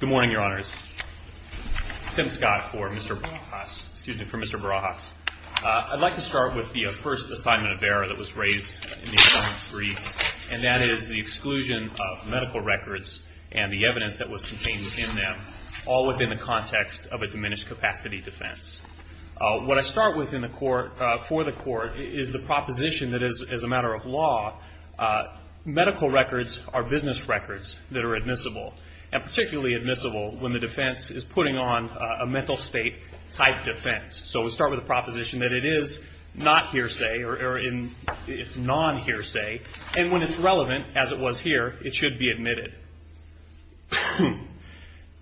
Good morning, Your Honors. Tim Scott for Mr. Barajas. I'd like to start with the first assignment of error that was raised in the assignment briefs, and that is the exclusion of medical records and the evidence that was contained in them, all within the context of a diminished capacity defense. What I start with for the court is the proposition that, as a matter of law, medical records are business records that are admissible, and particularly admissible when the defense is putting on a mental state-type defense. So we start with a proposition that it is not hearsay, or it's non-hearsay, and when it's relevant, as it was here, it should be admitted.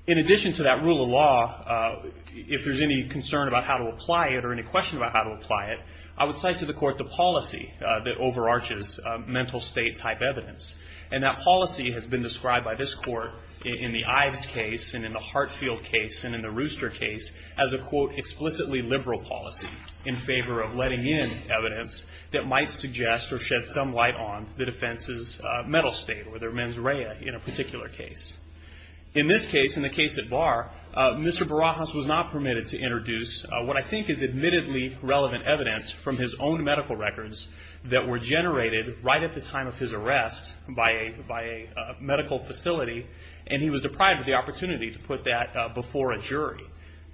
In addition to that rule of law, if there's any concern about how to apply it or any question about how to apply it, I would cite to the court the policy that overarches mental state-type evidence. And that policy has been described by this court in the Ives case and in the Hartfield case and in the Rooster case as a, quote, explicitly liberal policy in favor of letting in evidence that might suggest or shed some light on the defense's mental state or their mens rea in a particular case. In this case, in the case at Barr, Mr. Barajas was not permitted to introduce what I think is admittedly relevant evidence from his own medical records that were generated right at the time of his arrest by a medical facility, and he was deprived of the opportunity to put that before a jury.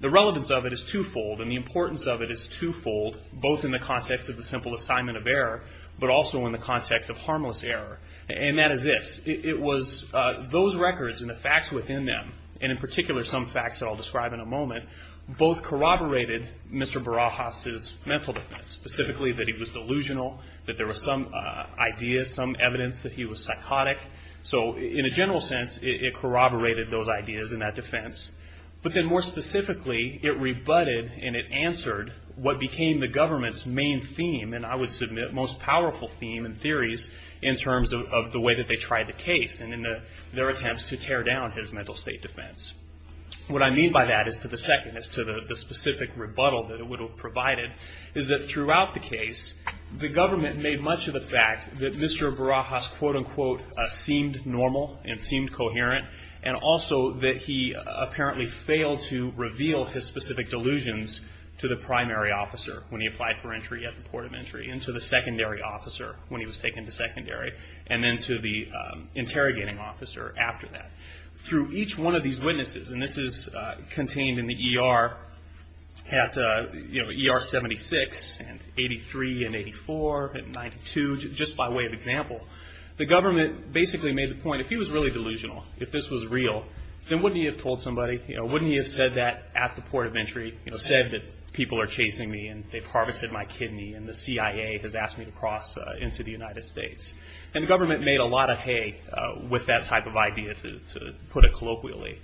The relevance of it is twofold, and the importance of it is twofold, both in the context of the simple assignment of error, but also in the context of harmless error. And that is this. It was those records and the facts within them, and in particular some facts that I'll describe in a moment, both corroborated Mr. Barajas' mental defense, specifically that he was delusional, that there was some ideas, some evidence that he was psychotic. So in a general sense, it corroborated those ideas and that defense. But then more specifically, it rebutted and it answered what became the government's main theme, and I would submit most powerful theme and theories in terms of the way that they tried the case and in their attempts to tear down his mental state defense. What I mean by that is to the second, is to the specific rebuttal that it would have provided, is that throughout the case, the government made much of the fact that Mr. Barajas, quote-unquote, seemed normal and seemed coherent, and also that he apparently failed to reveal his specific delusions to the primary officer when he applied for entry at the port of entry, and to the secondary officer when he was taken to secondary, and then to the interrogating officer after that. Through each one of these witnesses, and this is contained in the ER at ER 76 and 83 and 84 and 92, just by way of example, the government basically made the point, if he was really delusional, if this was real, then wouldn't he have told somebody? Wouldn't he have said that at the port of entry, said that people are chasing me and they've harvested my kidney and the CIA has asked me to cross into the United States? And the government made a lot of hay with that type of idea, to put it colloquially.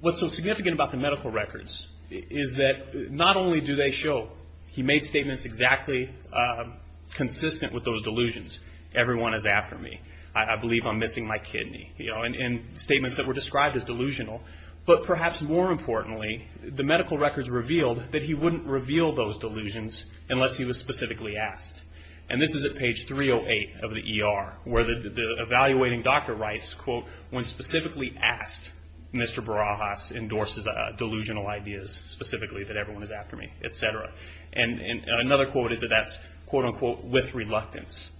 What's so significant about the medical records is that not only do they show he made statements exactly consistent with those delusions, everyone is after me, I believe I'm missing my kidney, and statements that were described as delusional, but perhaps more importantly, the medical records revealed that he wouldn't reveal those delusions unless he was specifically asked. And this is at page 308 of the ER, where the evaluating doctor writes, quote, when specifically asked, Mr. Barajas endorses delusional ideas, specifically that everyone is after me, etc. And another quote is that that's, quote unquote, with reluctance.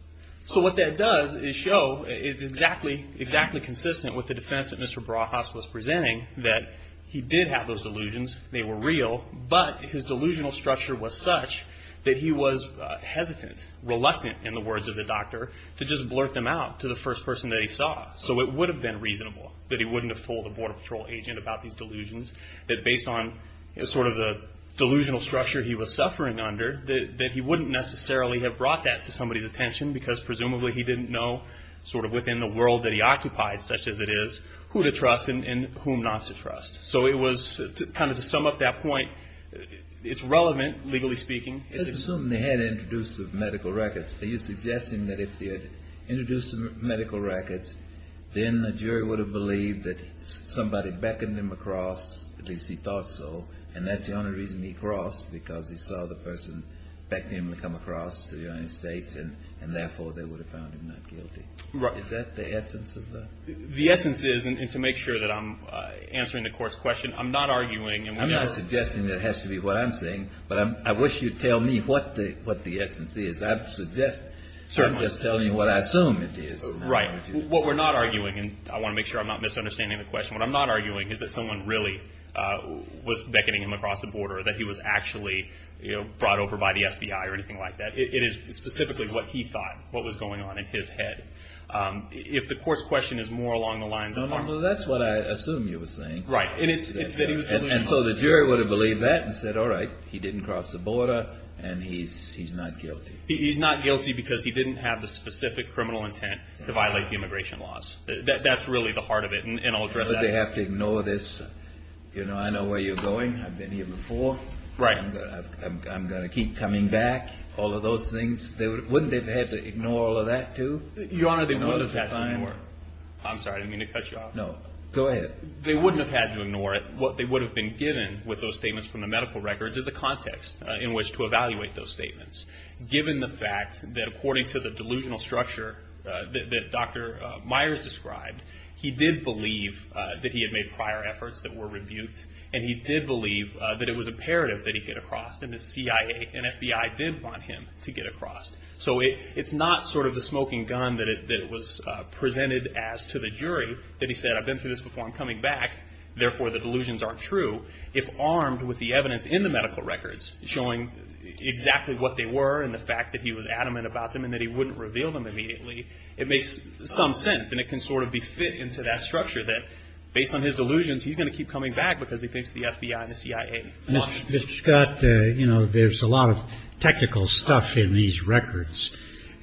So what that does is show it's exactly consistent with the defense that Mr. Barajas was presenting, that he did have those delusions, they were real, but his delusional structure was such that he was hesitant, reluctant, in the words of the doctor, to just blurt them out to the first person that he saw. So it would have been reasonable that he wouldn't have told the Border Patrol agent about these delusions, that based on sort of the delusional structure he was suffering under, that he wouldn't necessarily have brought that to somebody's attention, because presumably he didn't know, sort of within the world that he occupied, such as it is, who to trust and whom not to trust. So it was, kind of to sum up that point, it's relevant, legally speaking. It's assumed they had introduced the medical records. Are you suggesting that if they had introduced the medical records, then the jury would have believed that somebody beckoned him across, at least he thought so, and that's the only reason he crossed, because he saw the person beckoning him to come across to the United States, and therefore, they would have found him not guilty? Right. Is that the essence of that? The essence is, and to make sure that I'm answering the court's question, I'm not arguing. I'm not suggesting that it has to be what I'm saying, but I wish you'd tell me what the essence is. I'm just telling you what I assume it is. Right. What we're not arguing, and I want to make sure I'm not misunderstanding the question. What I'm not arguing is that someone really was beckoning him across the border, that he was actually brought over by the FBI or anything like that. It is specifically what he thought what was going on in his head. If the court's question is more along the lines of – That's what I assume you were saying. Right. And it's that he was – And so the jury would have believed that and said, all right, he didn't cross the border, and he's not guilty. He's not guilty because he didn't have the specific criminal intent to violate the immigration laws. That's really the heart of it, and I'll address that later. But they have to ignore this. You know, I know where you're going. I've been here before. Right. I'm going to keep coming back, all of those things. Wouldn't they have had to ignore all of that, too? Your Honor, they wouldn't have had to ignore it. I'm sorry. I didn't mean to cut you off. No. Go ahead. They wouldn't have had to ignore it. What they would have been given with those statements from the medical records is a context in which to evaluate those statements. Given the fact that according to the delusional structure that Dr. Myers described, he did believe that he had made prior efforts that were rebuked, and he did believe that it was imperative that he get across, and the CIA and FBI did want him to get across. So it's not sort of the smoking gun that it was presented as to the jury that he said, I've been through this before. I'm coming back. Therefore, the delusions aren't true. If armed with the evidence in the medical records showing exactly what they were and the fact that he was adamant about them and that he wouldn't reveal them immediately, it makes some sense, and it can sort of be fit into that structure that based on his delusions, he's going to keep coming back because he thinks the FBI and the CIA want him to. Mr. Scott, you know, there's a lot of technical stuff in these records,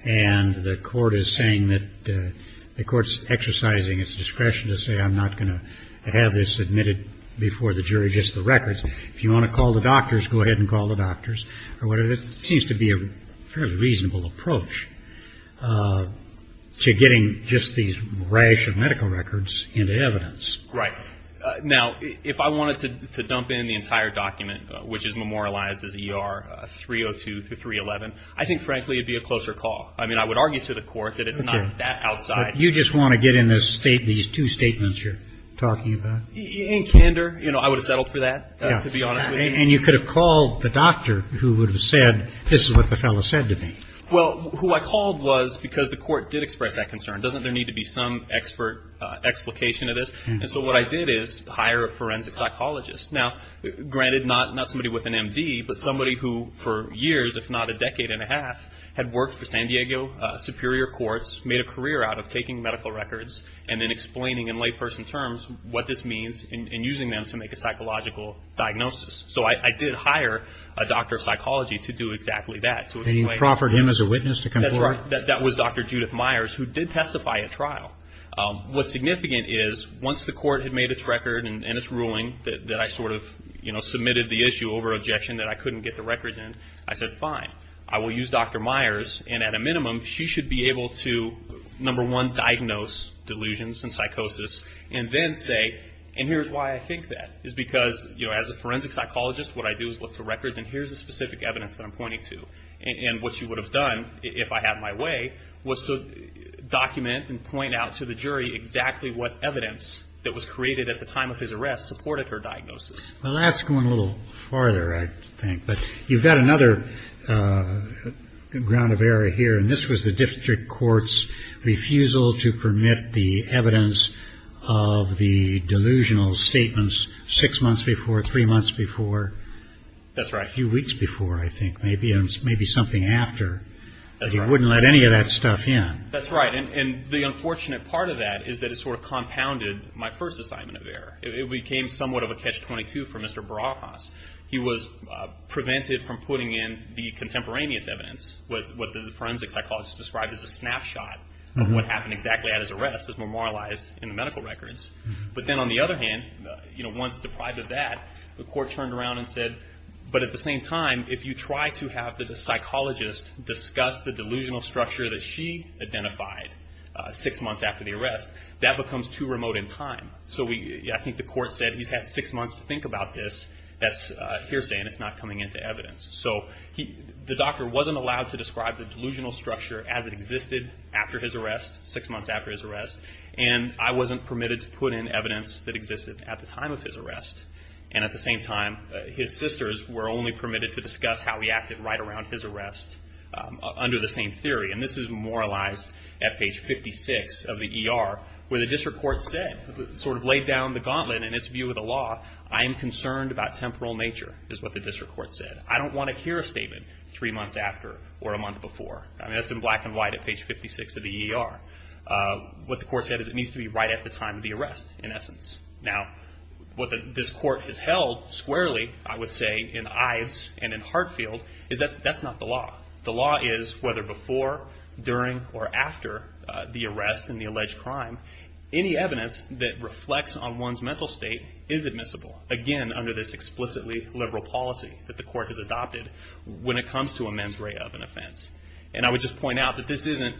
and the Court is saying that the Court's exercising its discretion to say I'm not going to have this admitted before the jury gets the records. If you want to call the doctors, go ahead and call the doctors, or whatever. It seems to be a fairly reasonable approach to getting just these rash of medical records into evidence. Right. Now, if I wanted to dump in the entire document, which is memorialized as ER 302-311, I think, frankly, it would be a closer call. I mean, I would argue to the Court that it's not that outside. Okay. But you just want to get in these two statements you're talking about? In candor, you know, I would have settled for that, to be honest with you. And you could have called the doctor who would have said this is what the fellow said to me. Well, who I called was because the Court did express that concern. Doesn't there need to be some explication of this? And so what I did is hire a forensic psychologist. Now, granted, not somebody with an M.D., but somebody who for years, if not a decade and a half, had worked for San Diego Superior Courts, made a career out of taking medical records and then explaining in layperson terms what this means and using them to make a psychological diagnosis. So I did hire a doctor of psychology to do exactly that. And you proffered him as a witness to come forward? That's right. That was Dr. Judith Myers, who did testify at trial. What's significant is once the Court had made its record and its ruling that I sort of, you know, submitted the issue over objection that I couldn't get the records in, I said, fine, I will use Dr. Myers. And at a minimum, she should be able to, number one, diagnose delusions and psychosis and then say, and here's why I think that, is because, you know, as a forensic psychologist, what I do is look for records and here's the specific evidence that I'm pointing to. And what she would have done, if I had my way, was to document and point out to the jury exactly what evidence that was created at the time of his arrest supported her diagnosis. Well, that's going a little farther, I think. But you've got another ground of error here, and this was the district court's refusal to permit the evidence of the delusional statements six months before, three months before. That's right. Or a few weeks before, I think, maybe, and maybe something after. That's right. They wouldn't let any of that stuff in. That's right. And the unfortunate part of that is that it sort of compounded my first assignment of error. It became somewhat of a catch-22 for Mr. Barajas. He was prevented from putting in the contemporaneous evidence, what the forensic psychologist described as a snapshot of what happened exactly at his arrest, as memorialized in the medical records. But then on the other hand, you know, once deprived of that, the Court turned around and said, but at the same time, if you try to have the psychologist discuss the delusional structure that she identified six months after the arrest, that becomes too remote in time. So I think the Court said he's had six months to think about this. That's hearsay, and it's not coming into evidence. So the doctor wasn't allowed to describe the delusional structure as it existed after his arrest, six months after his arrest, and I wasn't permitted to put in evidence that existed at the time of his arrest. And at the same time, his sisters were only permitted to discuss how he acted right around his arrest under the same theory. And this is memorialized at page 56 of the ER, where the District Court said, sort of laid down the gauntlet in its view of the law, I am concerned about temporal nature, is what the District Court said. I don't want to hear a statement three months after or a month before. I mean, that's in black and white at page 56 of the ER. What the Court said is it needs to be right at the time of the arrest, in essence. Now, what this Court has held squarely, I would say, in Ives and in Hartfield, is that that's not the law. The law is whether before, during, or after the arrest and the alleged crime, any evidence that reflects on one's mental state is admissible. Again, under this explicitly liberal policy that the Court has adopted when it comes to a men's rate of an offense. And I would just point out that this isn't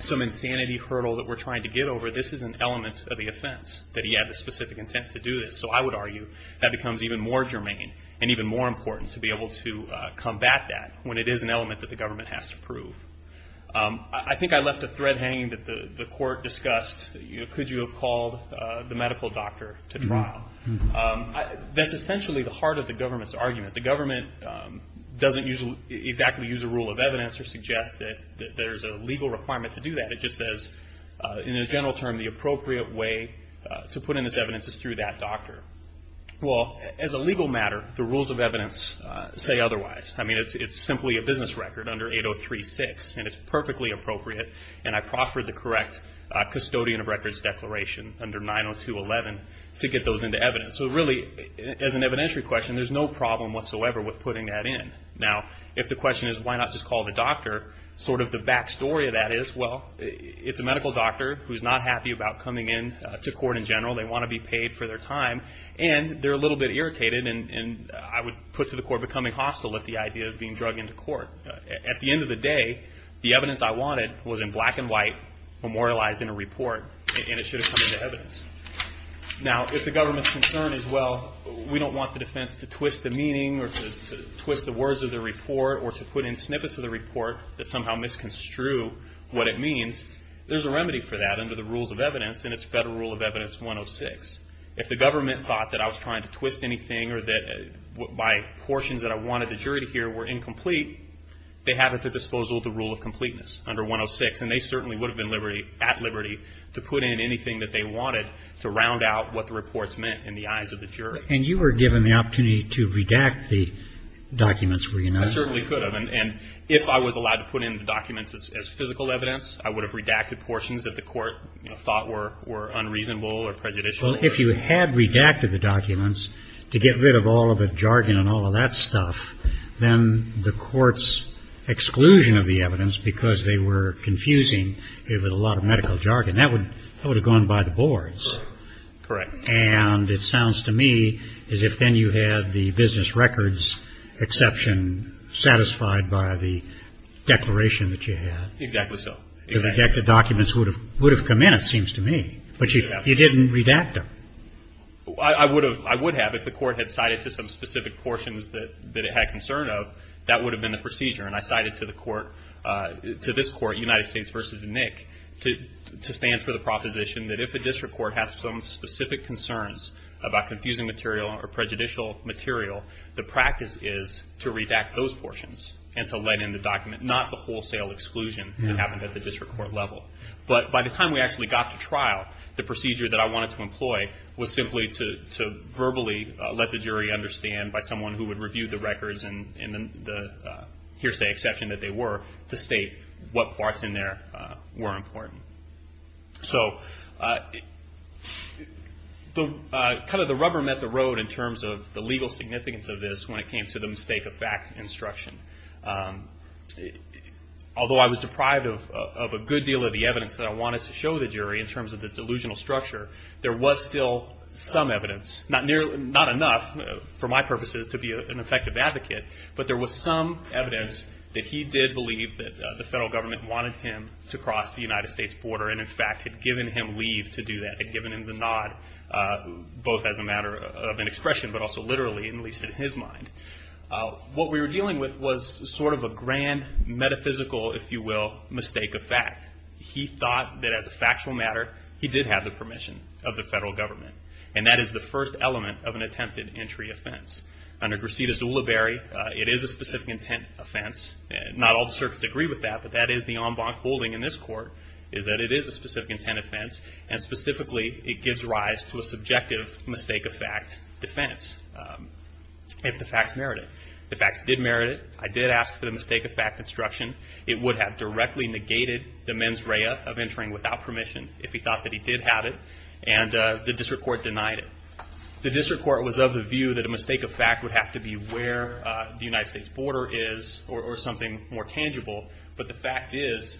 some insanity hurdle that we're trying to get over. This is an element of the offense, that he had the specific intent to do this. So I would argue that becomes even more germane and even more important to be able to combat that, when it is an element that the government has to prove. I think I left a thread hanging that the Court discussed. Could you have called the medical doctor to trial? That's essentially the heart of the government's argument. The government doesn't exactly use a rule of evidence or suggest that there's a legal requirement to do that. It just says, in a general term, the appropriate way to put in this evidence is through that doctor. Well, as a legal matter, the rules of evidence say otherwise. I mean, it's simply a business record under 803-6, and it's perfectly appropriate. And I proffered the correct custodian of records declaration under 902-11 to get those into evidence. So really, as an evidentiary question, there's no problem whatsoever with putting that in. Now, if the question is, why not just call the doctor, sort of the back story of that is, well, it's a medical doctor who's not happy about coming in to court in general. They want to be paid for their time, and they're a little bit irritated, and I would put to the Court becoming hostile at the idea of being drug into court. At the end of the day, the evidence I wanted was in black and white, memorialized in a report, and it should have come into evidence. Now, if the government's concern is, well, we don't want the defense to twist the meaning or to twist the words of the report or to put in snippets of the report that somehow misconstrue what it means, there's a remedy for that under the rules of evidence, and it's Federal Rule of Evidence 106. If the government thought that I was trying to twist anything or that my portions that I wanted the jury to hear were incomplete, they have at their disposal the rule of completeness under 106, and they certainly would have been at liberty to put in anything that they wanted And you were given the opportunity to redact the documents, were you not? I certainly could have. And if I was allowed to put in the documents as physical evidence, I would have redacted portions that the Court thought were unreasonable or prejudicial. Well, if you had redacted the documents to get rid of all of the jargon and all of that stuff, then the Court's exclusion of the evidence because they were confusing it with a lot of medical jargon, that would have gone by the boards. Correct. And it sounds to me as if then you had the business records exception satisfied by the declaration that you had. Exactly so. The redacted documents would have come in, it seems to me, but you didn't redact them. I would have. If the Court had cited to some specific portions that it had concern of, that would have been the procedure. And I cited to the Court, to this Court, United States v. Nick, to stand for the proposition that if a district court has some specific concerns about confusing material or prejudicial material, the practice is to redact those portions and to let in the documents, not the wholesale exclusion that happened at the district court level. But by the time we actually got to trial, the procedure that I wanted to employ was simply to verbally let the jury understand by someone who would review the records and the hearsay exception that they were, to state what parts in there were important. So kind of the rubber met the road in terms of the legal significance of this when it came to the mistake of fact instruction. Although I was deprived of a good deal of the evidence that I wanted to show the jury in terms of the delusional structure, there was still some evidence, not enough for my purposes to be an effective advocate, but there was some evidence that he did believe that the federal government wanted him to cross the United States border and, in fact, had given him leave to do that, had given him the nod, both as a matter of an expression but also literally, at least in his mind. What we were dealing with was sort of a grand metaphysical, if you will, mistake of fact. He thought that as a factual matter, he did have the permission of the federal government. And that is the first element of an attempted entry offense. Under Gracita Zulaberry, it is a specific intent offense. Not all the circuits agree with that, but that is the en banc holding in this court, is that it is a specific intent offense, and specifically, it gives rise to a subjective mistake of fact defense if the facts merit it. If the facts did merit it, I did ask for the mistake of fact instruction. It would have directly negated the mens rea of entering without permission if he thought that he did have it, and the district court denied it. The district court was of the view that a mistake of fact would have to be where the United States border is or something more tangible, but the fact is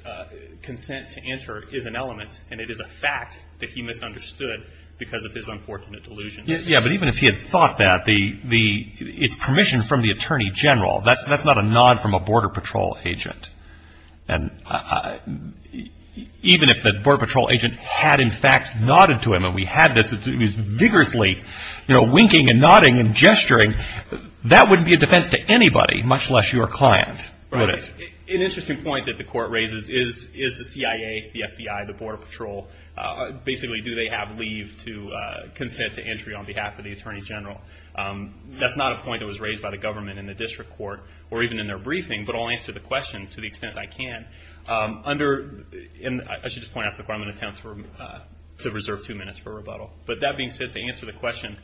consent to enter is an element, and it is a fact that he misunderstood because of his unfortunate delusion. Yeah, but even if he had thought that, it's permission from the attorney general. That's not a nod from a border patrol agent. Even if the border patrol agent had in fact nodded to him and we had this, it was vigorously winking and nodding and gesturing. That wouldn't be a defense to anybody, much less your client. An interesting point that the court raises is the CIA, the FBI, the border patrol, basically do they have leave to consent to entry on behalf of the attorney general? That's not a point that was raised by the government in the district court or even in their briefing, but I'll answer the question to the extent that I can. I should just point out that the government attempts to reserve two minutes for rebuttal, but that being said, to answer the question,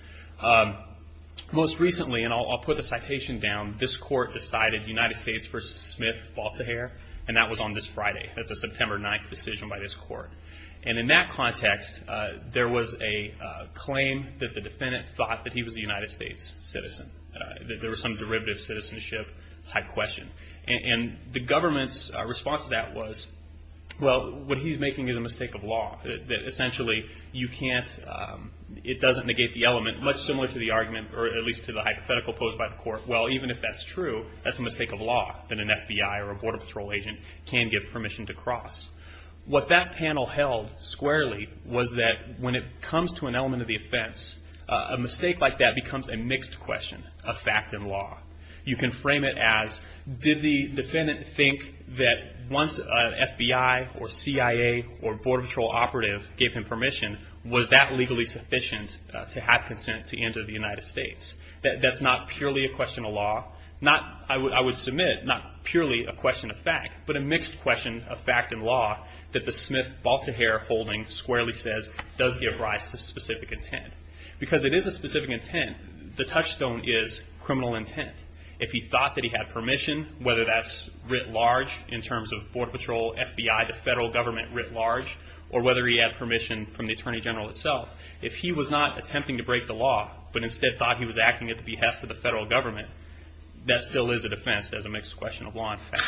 most recently, and I'll put the citation down, this court decided United States v. Smith-Baltahare, and that was on this Friday. That's a September 9th decision by this court, and in that context, there was a claim that the defendant thought that he was a United States citizen, that there was some derivative citizenship type question. And the government's response to that was, well, what he's making is a mistake of law, that essentially you can't, it doesn't negate the element, much similar to the argument or at least to the hypothetical posed by the court. Well, even if that's true, that's a mistake of law that an FBI or a border patrol agent can give permission to cross. What that panel held squarely was that when it comes to an element of the offense, a mistake like that becomes a mixed question of fact and law. You can frame it as, did the defendant think that once an FBI or CIA or border patrol operative gave him permission, was that legally sufficient to have consent to enter the United States? That's not purely a question of law. I would submit, not purely a question of fact, but a mixed question of fact and law that the Smith-Baltahare holding squarely says does give rise to specific intent. Because it is a specific intent, the touchstone is criminal intent. If he thought that he had permission, whether that's writ large in terms of border patrol, FBI, the federal government writ large, or whether he had permission from the Attorney General itself, if he was not attempting to break the law, but instead thought he was acting at the behest of the federal government, that still is a defense as a mixed question of law and fact.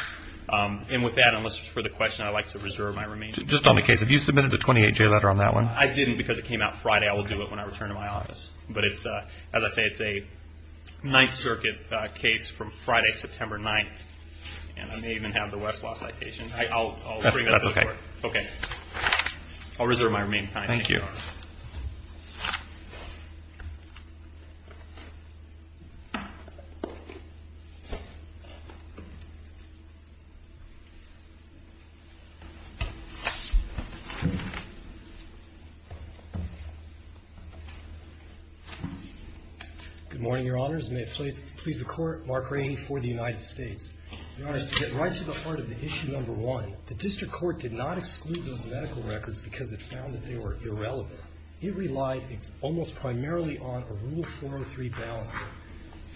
And with that, unless it's for the question, I'd like to reserve my remaining time. Just on the case, have you submitted a 28-J letter on that one? I didn't because it came out Friday. I will do it when I return to my office. But as I say, it's a Ninth Circuit case from Friday, September 9th, and I may even have the Westlaw citation. I'll bring that to the Court. Okay. I'll reserve my remaining time. Thank you. Good morning, Your Honors. May it please the Court, Mark Rahe for the United States. Your Honors, to get right to the heart of the issue number one, the district court did not exclude those medical records because it found that they were irrelevant. It relied almost primarily on a Rule 403 balance.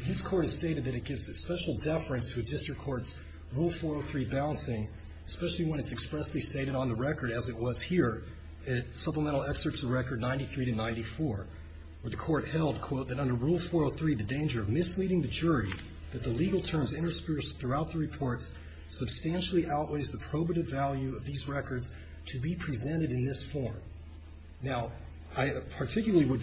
This Court has stated that it gives a special deference to a district court's Rule 403 balancing, especially when it's expressly stated on the record, as it was here, in Supplemental Excerpts of Record 93 to 94, where the Court held, quote, that under Rule 403, the danger of misleading the jury, that the legal terms interspersed throughout the reports substantially outweighs the probative value of these records to be presented in this form. Now, I particularly would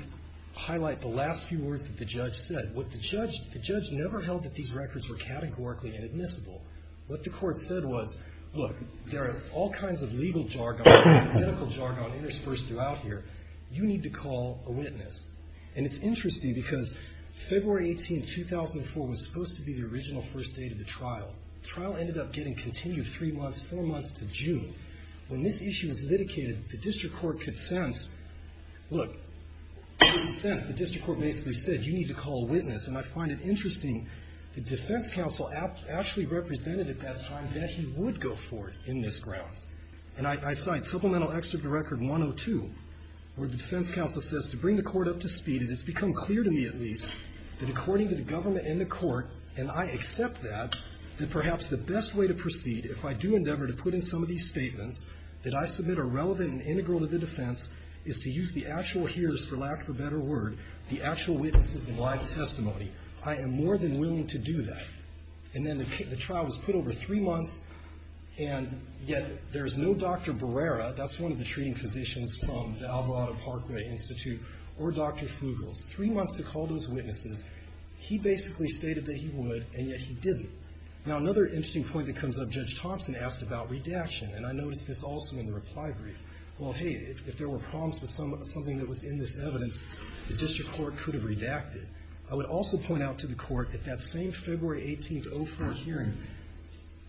highlight the last few words that the judge said. The judge never held that these records were categorically inadmissible. What the Court said was, look, there are all kinds of legal jargon and medical jargon interspersed throughout here. You need to call a witness. And it's interesting because February 18, 2004, was supposed to be the original first date of the trial. The trial ended up getting continued three months, four months to June. When this issue was litigated, the district court could sense, look, the district court basically said, you need to call a witness. And I find it interesting that defense counsel actually represented at that time that he would go for it in this grounds. And I cite Supplemental Excerpt of Record 102, where the defense counsel says, to bring the court up to speed, it has become clear to me at least, that according to the government and the court, and I accept that, that perhaps the best way to proceed, if I do endeavor to put in some of these statements, that I submit are relevant and integral to the defense, is to use the actual hears, for lack of a better word, the actual witnesses in live testimony. I am more than willing to do that. And then the trial was put over three months, and yet there is no Dr. Barrera, that's one of the treating physicians from the Alvarado Parkway Institute, or Dr. Flugels. Three months to call those witnesses. He basically stated that he would, and yet he didn't. Now another interesting point that comes up, Judge Thompson asked about redaction. And I noticed this also in the reply brief. Well, hey, if there were problems with something that was in this evidence, the district court could have redacted. I would also point out to the court, at that same February 18th, 04 hearing,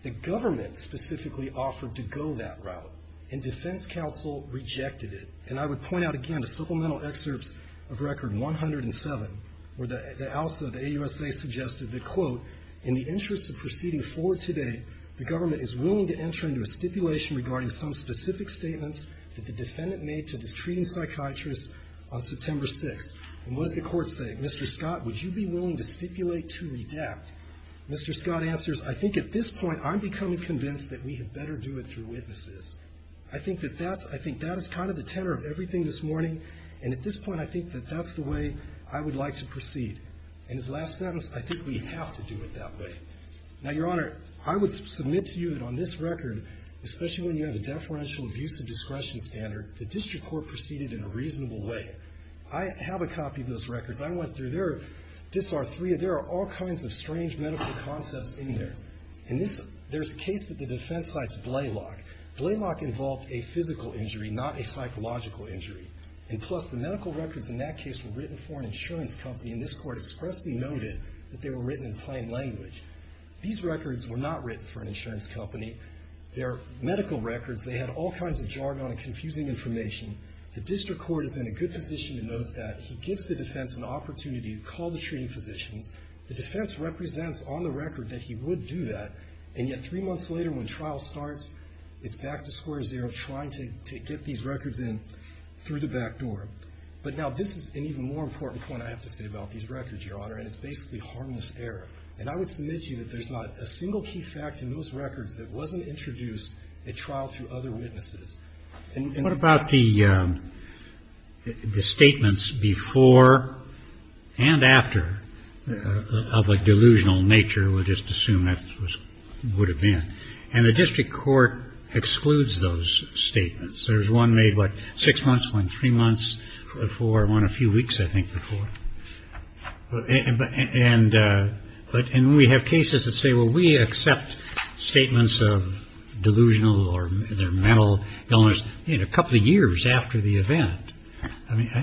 the government specifically offered to go that route. And defense counsel rejected it. And I would point out again, the Supplemental Excerpts of Record 107, where the ALSA, the AUSA, suggested that, quote, in the interest of proceeding forward today, the government is willing to enter into a stipulation regarding some specific statements that the defendant made to this treating psychiatrist on September 6th. And what is the court saying? Mr. Scott, would you be willing to stipulate to redact? Mr. Scott answers, I think at this point, I'm becoming convinced that we had better do it through witnesses. I think that that's, I think that is kind of the tenor of everything this morning. In his last sentence, I think we have to do it that way. Now, Your Honor, I would submit to you that on this record, especially when you have a deferential abuse of discretion standard, the district court proceeded in a reasonable way. I have a copy of those records. I went through there. There are all kinds of strange medical concepts in there. In this, there's a case that the defense cites Blalock. Blalock involved a physical injury, not a psychological injury. And plus, the medical records in that case were written for an insurance company. And this court expressly noted that they were written in plain language. These records were not written for an insurance company. They're medical records. They had all kinds of jargon and confusing information. The district court is in a good position to note that. He gives the defense an opportunity to call the treating physicians. The defense represents on the record that he would do that. And yet three months later, when trial starts, it's back to square zero, trying to get these records in through the back door. But now this is an even more important point I have to say about these records, Your Honor. And it's basically harmless error. And I would submit to you that there's not a single key fact in those records that wasn't introduced at trial through other witnesses. And in that case, there's no harmless error. And what about the statements before and after of a delusional nature? We'll just assume that's what it would have been. And the district court excludes those statements. There's one made, what, six months, one three months, one a few weeks, I think, before. And we have cases that say, well, we accept statements of delusional or mental illness a couple of years after the event.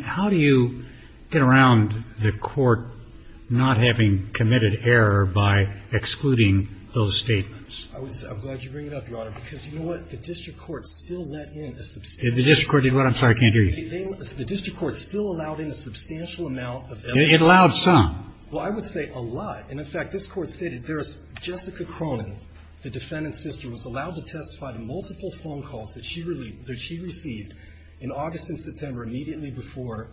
How do you get around the court not having committed error by excluding those statements? I'm glad you bring it up, Your Honor, because you know what? The district court still let in a substantial amount of evidence. The district court did what? I'm sorry, I can't hear you. The district court still allowed in a substantial amount of evidence. It allowed some. Well, I would say a lot. And, in fact, this Court stated there's Jessica Cronin, the defendant's sister, was allowed to testify to multiple phone calls that she received in August and September immediately before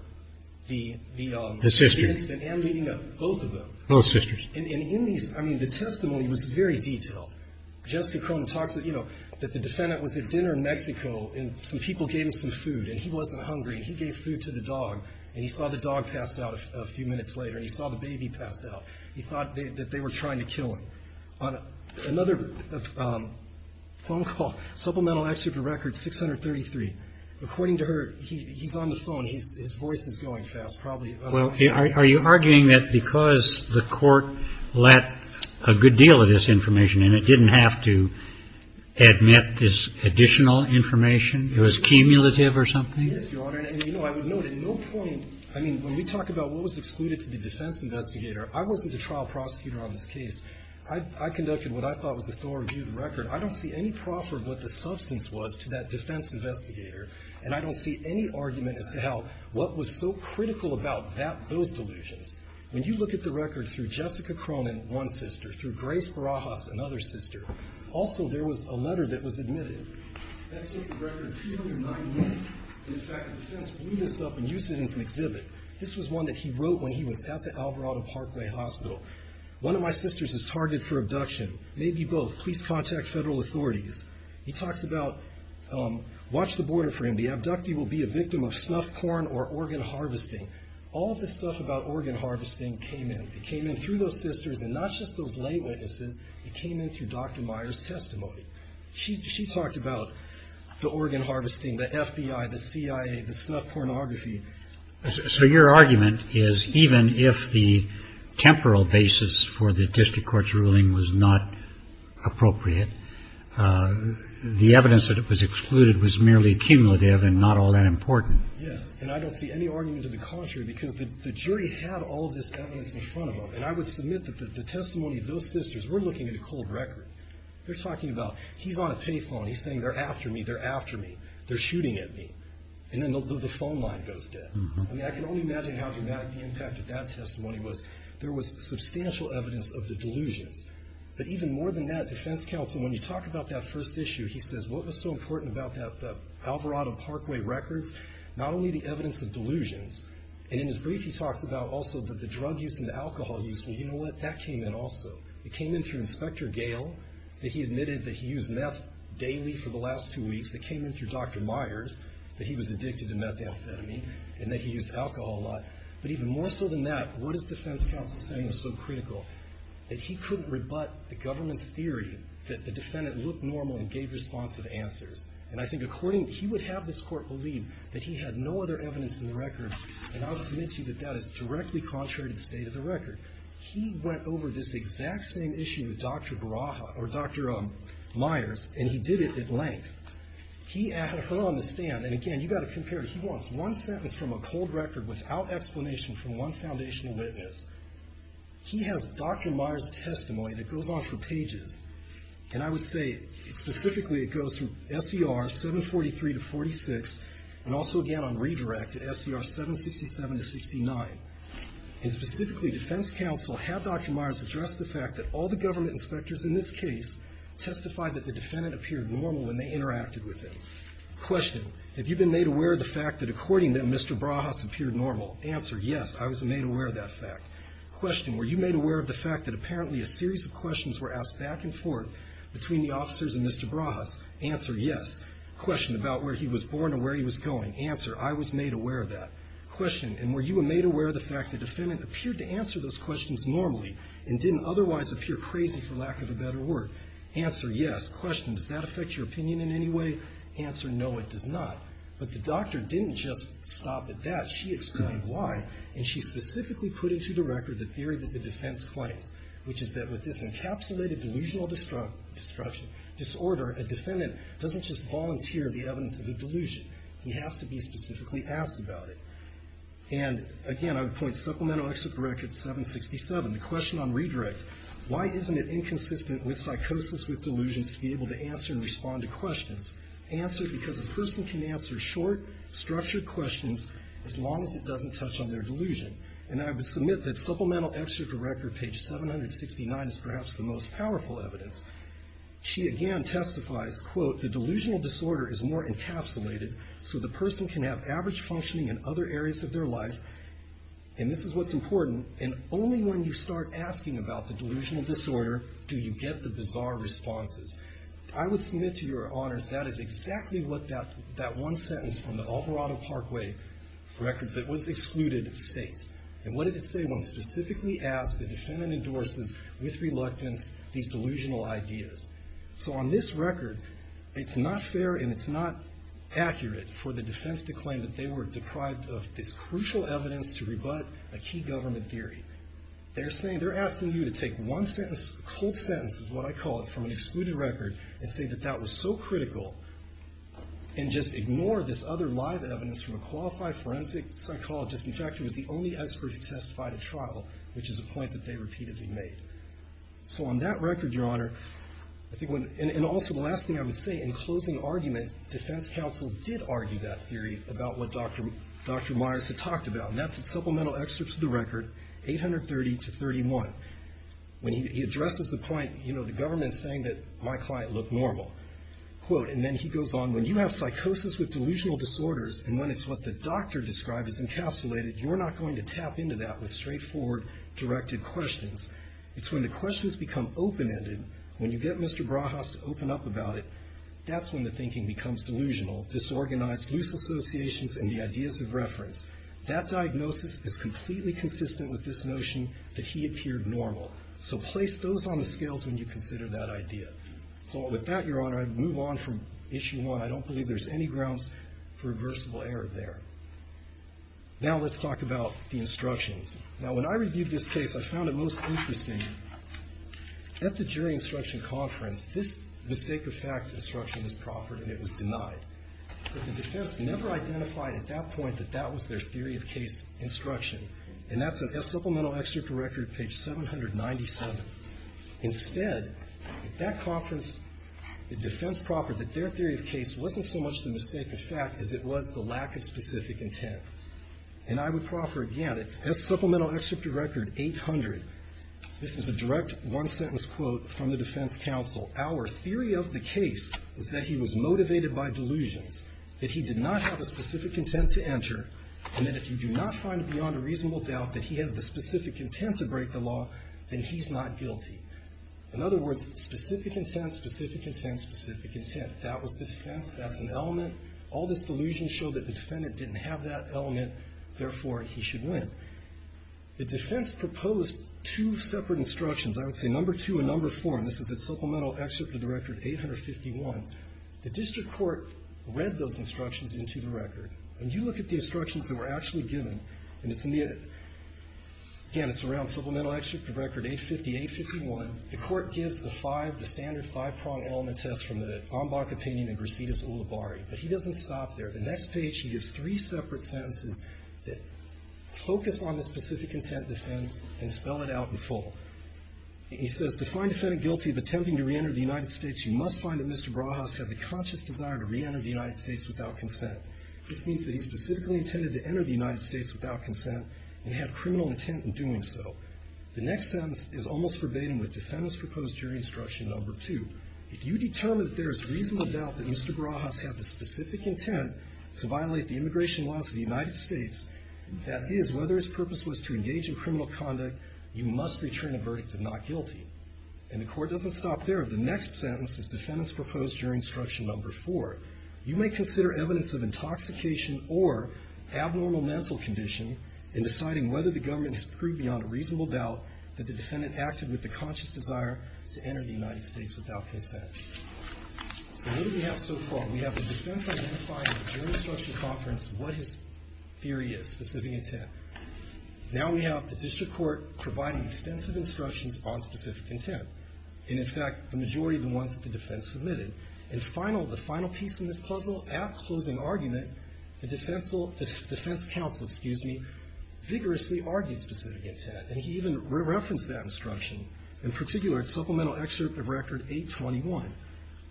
the incident. The sister. And I'm reading up both of them. Both sisters. And in these, I mean, the testimony was very detailed. Jessica Cronin talks, you know, that the defendant was at dinner in Mexico and some people gave him some food, and he wasn't hungry, and he gave food to the dog, and he saw the dog pass out a few minutes later, and he saw the baby pass out. He thought that they were trying to kill him. On another phone call, supplemental excerpt of record 633, according to her, he's on the phone. His voice is going fast, probably. Well, are you arguing that because the Court let a good deal of this information in, it didn't have to admit this additional information? It was cumulative or something? Yes, Your Honor. And, you know, I would note at no point, I mean, when we talk about what was excluded to the defense investigator, I wasn't a trial prosecutor on this case. I conducted what I thought was a thorough review of the record. I don't see any proffer of what the substance was to that defense investigator, and I don't see any argument as to how what was so critical about that, those delusions. When you look at the record through Jessica Cronin, one sister, through Grace Barajas, another sister, also there was a letter that was admitted. Let's look at record 391. In fact, the defense blew this up and used it as an exhibit. This was one that he wrote when he was at the Alvarado Parkway Hospital. One of my sisters is targeted for abduction. Maybe both. Please contact federal authorities. He talks about watch the border for him. The abductee will be a victim of snuff porn or organ harvesting. All of this stuff about organ harvesting came in. It came in through those sisters and not just those lay witnesses. It came in through Dr. Myers' testimony. She talked about the organ harvesting, the FBI, the CIA, the snuff pornography. So your argument is even if the temporal basis for the district court's ruling was not appropriate, the evidence that was excluded was merely cumulative and not all that important. Yes. And I don't see any argument to the contrary because the jury had all of this evidence in front of them. And I would submit that the testimony of those sisters, we're looking at a cold record. They're talking about he's on a pay phone. He's saying they're after me. They're after me. They're shooting at me. And then the phone line goes dead. I mean, I can only imagine how dramatic the impact of that testimony was. There was substantial evidence of the delusions. But even more than that, defense counsel, when you talk about that first issue, he says, what was so important about that Alvarado Parkway records? Not only the evidence of delusions, and in his brief he talks about also the drug use and the alcohol use. Well, you know what? That came in also. It came in through Inspector Gale that he admitted that he used meth daily for the last two weeks. It came in through Dr. Myers that he was addicted to methamphetamine and that he used alcohol a lot. But even more so than that, what is defense counsel saying is so critical? That he couldn't rebut the government's theory that the defendant looked normal and gave responsive answers. And I think according, he would have this court believe that he had no other evidence in the record. And I would submit to you that that is directly contrary to the state of the record. He went over this exact same issue with Dr. Baraha, or Dr. Myers, and he did it at length. He had her on the stand, and again, you've got to compare. He wants one sentence from a cold record without explanation from one foundational witness. He has Dr. Myers' testimony that goes on for pages. And I would say specifically it goes from SER 743 to 46, and also again on redirect to SER 767 to 69. And specifically, defense counsel had Dr. Myers address the fact that all the government inspectors in this case testified that the defendant appeared normal when they interacted with him. Question, have you been made aware of the fact that according to them, Mr. Baraha appeared normal? Answer, yes, I was made aware of that fact. Question, were you made aware of the fact that apparently a series of questions were asked back and forth between the officers and Mr. Baraha? Answer, yes. Question, about where he was born or where he was going? Answer, I was made aware of that. Question, and were you made aware of the fact the defendant appeared to answer those questions normally and didn't otherwise appear crazy for lack of a better word? Answer, yes. Question, does that affect your opinion in any way? Answer, no, it does not. But the doctor didn't just stop at that. She explained why, and she specifically put into the record the theory that the defense claims, which is that with this encapsulated delusional disruption disorder, a defendant doesn't just volunteer the evidence of a delusion. He has to be specifically asked about it. And again, I would point supplemental excerpt of record 767, the question on redirect. Why isn't it inconsistent with psychosis with delusions to be able to answer and respond to questions? Answer, because a person can answer short, structured questions as long as it doesn't touch on their delusion. And I would submit that supplemental excerpt of record page 769 is perhaps the most powerful evidence. She again testifies, quote, the delusional disorder is more encapsulated, so the person can have average functioning in other areas of their life. And this is what's important. And only when you start asking about the delusional disorder do you get the bizarre responses. I would submit to your honors that is exactly what that one sentence from the Alvarado Parkway records that was excluded states. And what did it say? One specifically asked the defendant endorses with reluctance these delusional ideas. So on this record, it's not fair and it's not accurate for the defense to claim that they were deprived of this crucial evidence to rebut a key government theory. They're saying, they're asking you to take one sentence, a cold sentence is what I call it, from an excluded record and say that that was so critical and just ignore this other live evidence from a qualified forensic psychologist. In fact, he was the only expert who testified at trial, which is a point that they repeatedly made. So on that record, your honor, and also the last thing I would say, in closing argument, defense counsel did argue that theory about what Dr. Myers had talked about. And that's a supplemental excerpt to the record, 830 to 31. When he addresses the point, you know, the government is saying that my client looked normal, quote, and then he goes on, when you have psychosis with delusional disorders and when it's what the doctor described as encapsulated, you're not going to tap into that with straightforward, directed questions. It's when the questions become open-ended, when you get Mr. Brahas to open up about it, that's when the thinking becomes delusional, disorganized, loose associations in the ideas of reference. That diagnosis is completely consistent with this notion that he appeared normal. So place those on the scales when you consider that idea. So with that, your honor, I'd move on from issue one. I don't believe there's any grounds for reversible error there. Now let's talk about the instructions. Now, when I reviewed this case, I found it most interesting. At the jury instruction conference, this mistake of fact instruction was proffered and it was denied. But the defense never identified at that point that that was their theory of case instruction. And that's a supplemental excerpt to record, page 797. Instead, at that conference, the defense proffered that their theory of case wasn't so much the mistake of fact as it was the lack of specific intent. And I would proffer again, that's supplemental excerpt to record 800. This is a direct one-sentence quote from the defense counsel. Our theory of the case is that he was motivated by delusions, that he did not have a specific intent to enter, and that if you do not find beyond a reasonable doubt that he had the specific intent to break the law, then he's not guilty. In other words, specific intent, specific intent, specific intent. That was the defense. That's an element. All this delusion showed that the defendant didn't have that element. Therefore, he should win. The defense proposed two separate instructions. I would say number two and number four. And this is a supplemental excerpt to the record 851. The district court read those instructions into the record. And you look at the instructions that were actually given, and it's in the, again, it's around supplemental excerpt to record 850, 851. The court gives the five, the standard five-prong element test from the Ombakopinion and Brasidas Ulibarri. But he doesn't stop there. The next page, he gives three separate sentences that focus on the specific intent defense and spell it out in full. He says, to find a defendant guilty of attempting to reenter the United States, you must find that Mr. Brahaus had the conscious desire to reenter the United States without consent. This means that he specifically intended to enter the United States without consent and had criminal intent in doing so. The next sentence is almost verbatim with defendants proposed during instruction number two. If you determine that there is reasonable doubt that Mr. Brahaus had the specific intent to violate the immigration laws of the United States, that is whether his purpose was to engage in criminal conduct, you must return a verdict of not guilty. And the court doesn't stop there. The next sentence is defendants proposed during instruction number four. You may consider evidence of intoxication or abnormal mental condition in deciding whether the government has proved beyond a reasonable doubt that the defendant acted with the conscious desire to enter the United States without consent. So what do we have so far? We have the defense identifying during instruction conference what his theory is, specific intent. Now we have the district court providing extensive instructions on specific intent. And, in fact, the majority of the ones that the defense submitted. And final, the final piece in this puzzle, at closing argument, the defense counsel, excuse me, vigorously argued specific intent. And he even referenced that instruction. In particular, supplemental excerpt of record 821.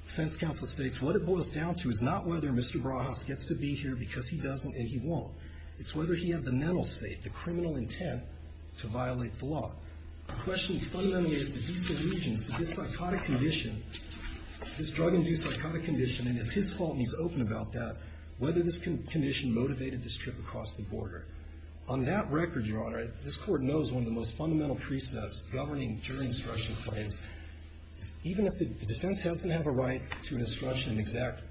Defense counsel states, what it boils down to is not whether Mr. Brahaus gets to be here because he doesn't and he won't. It's whether he had the mental state, the criminal intent, to violate the law. The question fundamentally is, did these delusions, did this psychotic condition, this drug-induced psychotic condition, and it's his fault and he's open about that, whether this condition motivated this trip across the border. On that record, Your Honor, this Court knows one of the most fundamental precepts governing jury instruction claims is even if the defense doesn't have a right to an instruction, an exact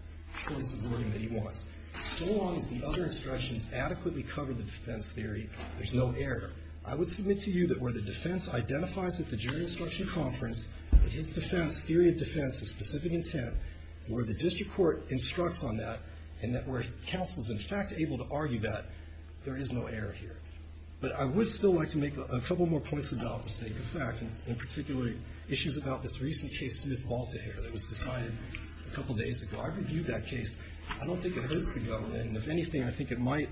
choice of wording that he wants, so long as the other instructions adequately cover the defense theory, there's no error. I would submit to you that where the defense identifies at the jury instruction conference that his defense, theory of defense, has specific intent, where the district court instructs on that, and that where counsel is, in fact, able to argue that, there is no error here. But I would still like to make a couple more points about mistake of fact, and particularly issues about this recent case, Smith-Volta here, that was decided a couple days ago. I reviewed that case. I don't think it hurts the government, and if anything, I think it might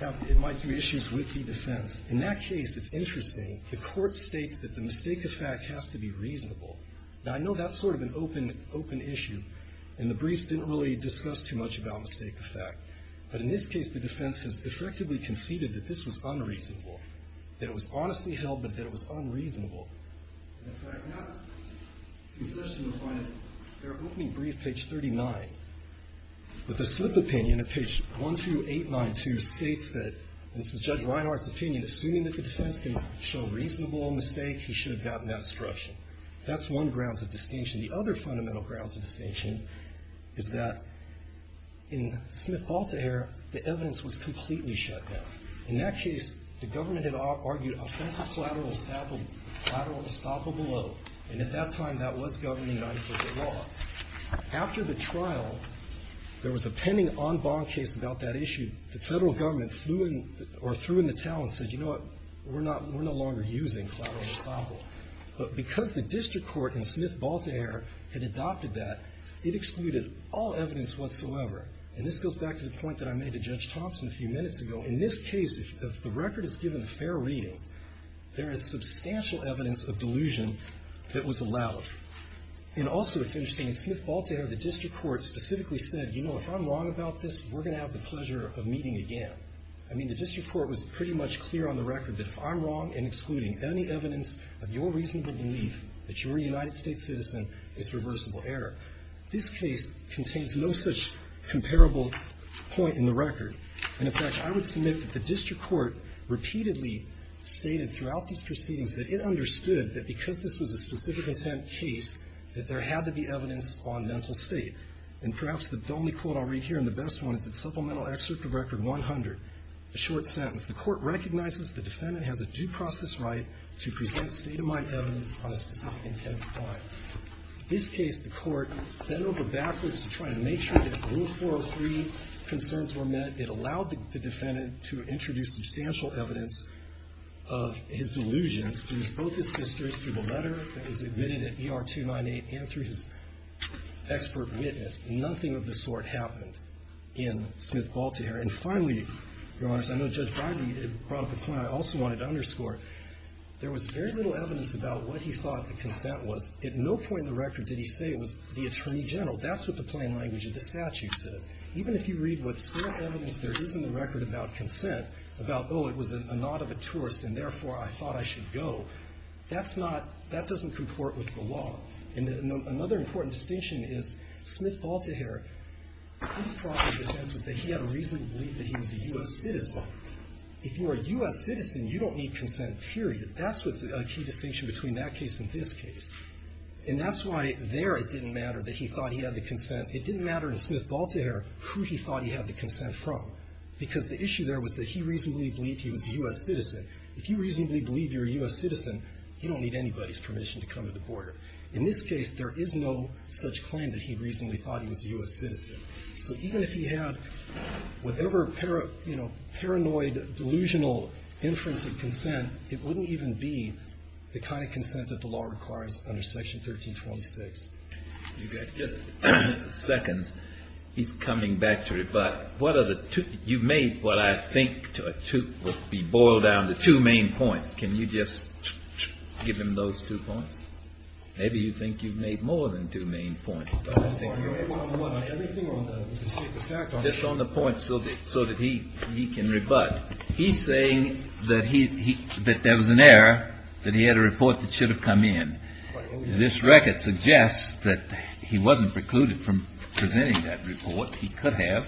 have issues with the defense. In that case, it's interesting. The Court states that the mistake of fact has to be reasonable. Now, I know that's sort of an open, open issue, and the briefs didn't really discuss too much about mistake of fact. But in this case, the defense has effectively conceded that this was unreasonable, that it was honestly held, but that it was unreasonable. In fact, now, it's interesting to find that they're opening brief page 39, but the slip opinion at page 12892 states that, and this was Judge Reinhardt's opinion, assuming that the defense can show reasonable mistake, he should have gotten that instruction. That's one grounds of distinction. The other fundamental grounds of distinction is that in Smith-Volta here, the evidence was completely shut down. In that case, the government had argued offensive collateral estoppel below, and at that time, that was governing the law. After the trial, there was a pending en banc case about that issue. The federal government flew in or threw in the towel and said, you know what, we're not, we're no longer using collateral estoppel. But because the district court in Smith-Volta here had adopted that, it excluded all evidence whatsoever. And this goes back to the point that I made to Judge Thompson a few minutes ago. In this case, if the record is given a fair reading, there is substantial evidence of delusion that was allowed. And also, it's interesting, in Smith-Volta here, the district court specifically said, you know, if I'm wrong about this, we're going to have the pleasure of meeting again. I mean, the district court was pretty much clear on the record that if I'm wrong in excluding any evidence of your reasonable belief that you're a United States citizen, it's reversible error. This case contains no such comparable point in the record. And, in fact, I would submit that the district court repeatedly stated throughout these proceedings that it understood that because this was a specific intent case, that there had to be evidence on mental state. And perhaps the only quote I'll read here, and the best one, is in Supplemental Excerpt of Record 100, a short sentence. The court recognizes the defendant has a due process right to present state-of-mind evidence on a specific intent of crime. In this case, the court bent over backwards to try to make sure that the Rule 403 concerns were met. It allowed the defendant to introduce substantial evidence of his delusions through both his sisters, through the letter that was admitted at ER 298, and through his expert witness. Nothing of the sort happened in Smith-Baltiher. And finally, Your Honors, I know Judge Breyer brought up a point I also wanted to underscore. There was very little evidence about what he thought the consent was. At no point in the record did he say it was the attorney general. That's what the plain language of the statute says. Even if you read what's still evidence there is in the record about consent, about, oh, it was a nod of a tourist, and therefore, I thought I should go, that's not – that doesn't comport with the law. And another important distinction is Smith-Baltiher, his problem with consent was that he had a reasonable belief that he was a U.S. citizen. If you're a U.S. citizen, you don't need consent, period. That's what's a key distinction between that case and this case. And that's why there it didn't matter that he thought he had the consent. It didn't matter in Smith-Baltiher who he thought he had the consent from, because the issue there was that he reasonably believed he was a U.S. citizen. If you reasonably believe you're a U.S. citizen, you don't need anybody's permission to come to the border. In this case, there is no such claim that he reasonably thought he was a U.S. citizen. So even if he had whatever, you know, paranoid, delusional inference of consent, it wouldn't even be the kind of consent that the law requires under Section 1326. You've got just seconds. He's coming back to it. But what are the two – you've made what I think to be boiled down to two main points. Can you just give him those two points? Maybe you think you've made more than two main points. Just on the points so that he can rebut. He's saying that there was an error, that he had a report that should have come in. This record suggests that he wasn't precluded from presenting that report. He could have.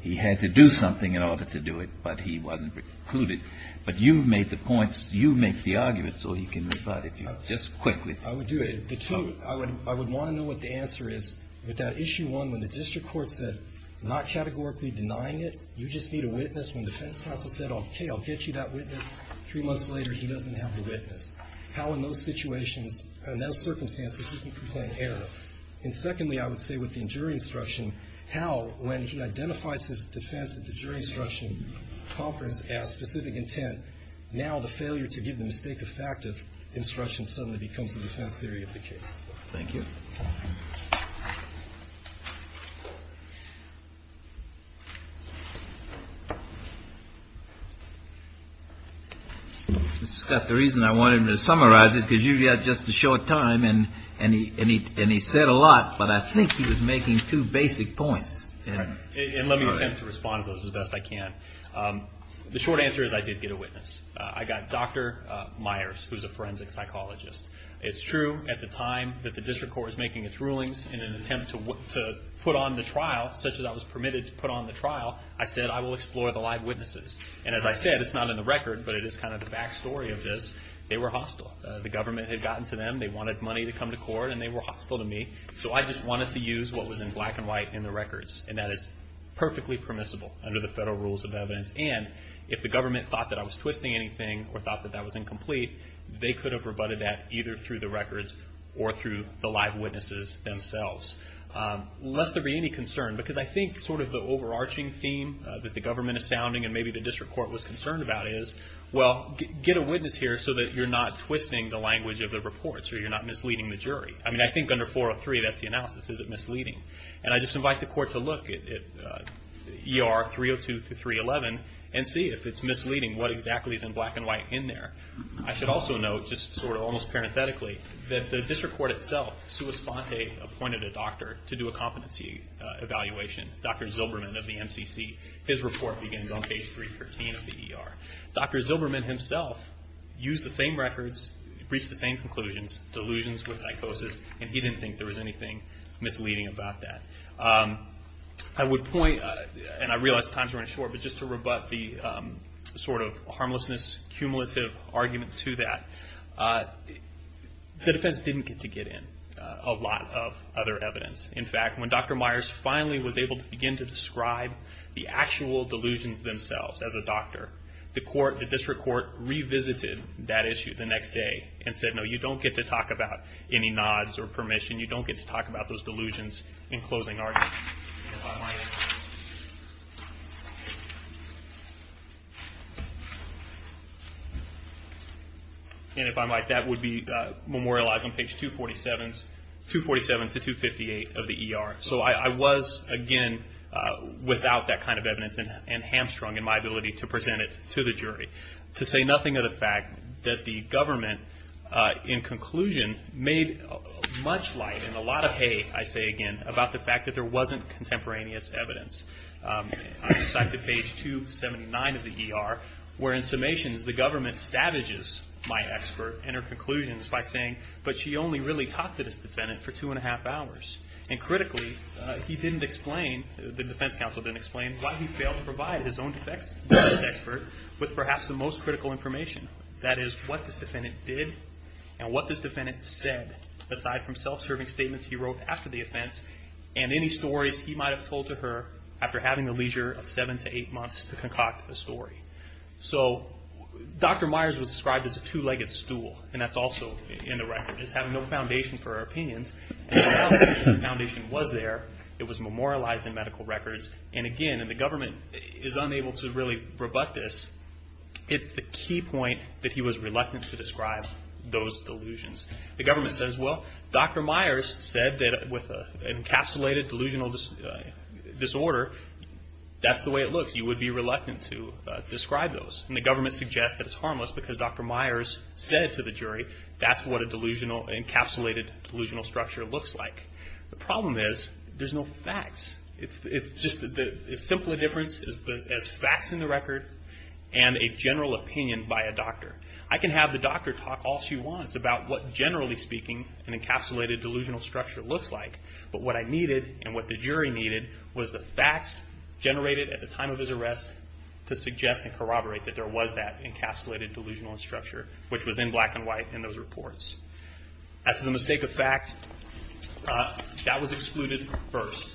He had to do something in order to do it, but he wasn't precluded. But you've made the points. You make the arguments so he can rebut it. Just quickly. I would do it. The two – I would want to know what the answer is. With that Issue 1, when the district court said not categorically denying it, you just need a witness. When the defense counsel said, okay, I'll get you that witness, three months later, he doesn't have the witness. How in those situations, in those circumstances, did he complain of error? And secondly, I would say with the injury instruction, how when he identifies his defense at the jury instruction conference as specific intent, now the failure to give the mistake effective instruction suddenly becomes the defense theory of the case. Thank you. Mr. Scott, the reason I wanted to summarize it, because you've got just a short time, and he said a lot, but I think he was making two basic points. And let me attempt to respond to those as best I can. The short answer is I did get a witness. I got Dr. Myers, who's a forensic psychologist. It's true at the time that the district court was making its rulings in an attempt to put on the trial, such that I was permitted to put on the trial, I said I will explore the live witnesses. And as I said, it's not in the record, but it is kind of the back story of this. They were hostile. The government had gotten to them. They wanted money to come to court, and they were hostile to me. So I just wanted to use what was in black and white in the records, and that is perfectly permissible under the federal rules of evidence. And if the government thought that I was twisting anything or thought that that was incomplete, they could have rebutted that either through the records or through the live witnesses themselves. Lest there be any concern, because I think sort of the overarching theme that the government is sounding and maybe the district court was concerned about is, well, get a witness here so that you're not twisting the language of the reports or you're not misleading the jury. I mean, I think under 403, that's the analysis. Is it misleading? And I just invite the court to look at ER 302 through 311 and see if it's misleading. What exactly is in black and white in there? I should also note, just sort of almost parenthetically, that the district court itself, sua sponte appointed a doctor to do a competency evaluation, Dr. Zilberman of the MCC. His report begins on page 313 of the ER. Dr. Zilberman himself used the same records, reached the same conclusions, delusions with psychosis, and he didn't think there was anything misleading about that. I would point, and I realize time's running short, but just to rebut the sort of harmlessness, cumulative argument to that, the defense didn't get to get in a lot of other evidence. In fact, when Dr. Myers finally was able to begin to describe the actual delusions themselves as a doctor, the district court revisited that issue the next day and said, no, you don't get to talk about any nods or permission. You don't get to talk about those delusions in closing arguments. And if I might, that would be memorialized on page 247 to 258 of the ER. So I was, again, without that kind of evidence and hamstrung in my ability to present it to the jury. To say nothing of the fact that the government, in conclusion, made much light and a lot of hate, I say again, about the fact that there wasn't contemporaneous evidence. I cited page 279 of the ER, where in summations the government savages my expert and her conclusions by saying, but she only really talked to this defendant for two and a half hours. And critically, he didn't explain, the defense counsel didn't explain, why he failed to provide his own defense expert with perhaps the most critical information. That is, what this defendant did and what this defendant said, aside from self-serving statements he wrote after the offense and any stories he might have told to her after having the leisure of seven to eight months to concoct a story. So Dr. Myers was described as a two-legged stool, and that's also in the record. We're just having no foundation for our opinions. The foundation was there. It was memorialized in medical records. And again, the government is unable to really rebut this. It's the key point that he was reluctant to describe those delusions. The government says, well, Dr. Myers said that with an encapsulated delusional disorder, that's the way it looks. You would be reluctant to describe those. And the government suggests that it's harmless because Dr. Myers said to the jury, that's what an encapsulated delusional structure looks like. The problem is there's no facts. It's just as simple a difference as facts in the record and a general opinion by a doctor. I can have the doctor talk all she wants about what, generally speaking, an encapsulated delusional structure looks like. But what I needed and what the jury needed was the facts generated at the time of his arrest to suggest and corroborate that there was that encapsulated delusional structure, which was in black and white in those reports. As to the mistake of fact, that was excluded first.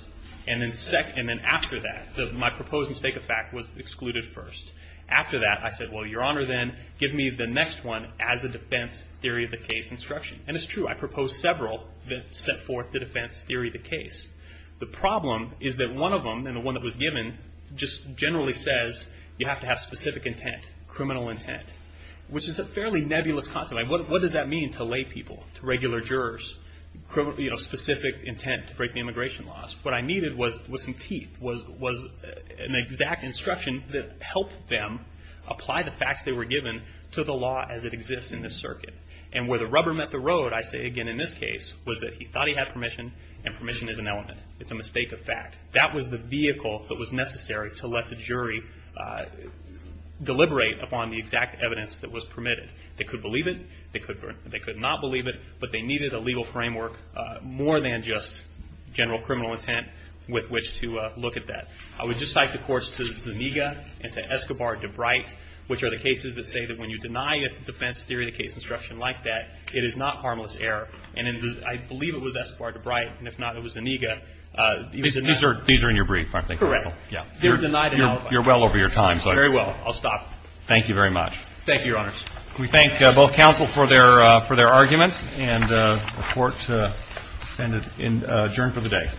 And then after that, my proposed mistake of fact was excluded first. After that, I said, well, Your Honor, then, give me the next one as a defense theory of the case instruction. And it's true. I proposed several that set forth the defense theory of the case. The problem is that one of them, and the one that was given, just generally says you have to have specific intent, criminal intent, which is a fairly nebulous concept. What does that mean to lay people, to regular jurors, specific intent to break the immigration laws? What I needed was some teeth, was an exact instruction that helped them apply the facts they were given to the law as it exists in this circuit. And where the rubber met the road, I say again in this case, was that he thought he had permission, and permission is an element. It's a mistake of fact. That was the vehicle that was necessary to let the jury deliberate upon the exact evidence that was permitted. They could believe it. They could not believe it. But they needed a legal framework more than just general criminal intent with which to look at that. I would just cite the courts to Zuniga and to Escobar-DeBrite, which are the cases that say that when you deny a defense theory of the case instruction like that, it is not harmless error. And I believe it was Escobar-DeBrite, and if not, it was Zuniga. These are in your brief, I think. Correct. You're well over your time. Very well. I'll stop. Thank you very much. Thank you, Your Honors. We thank both counsel for their arguments, and the Court is adjourned for the day.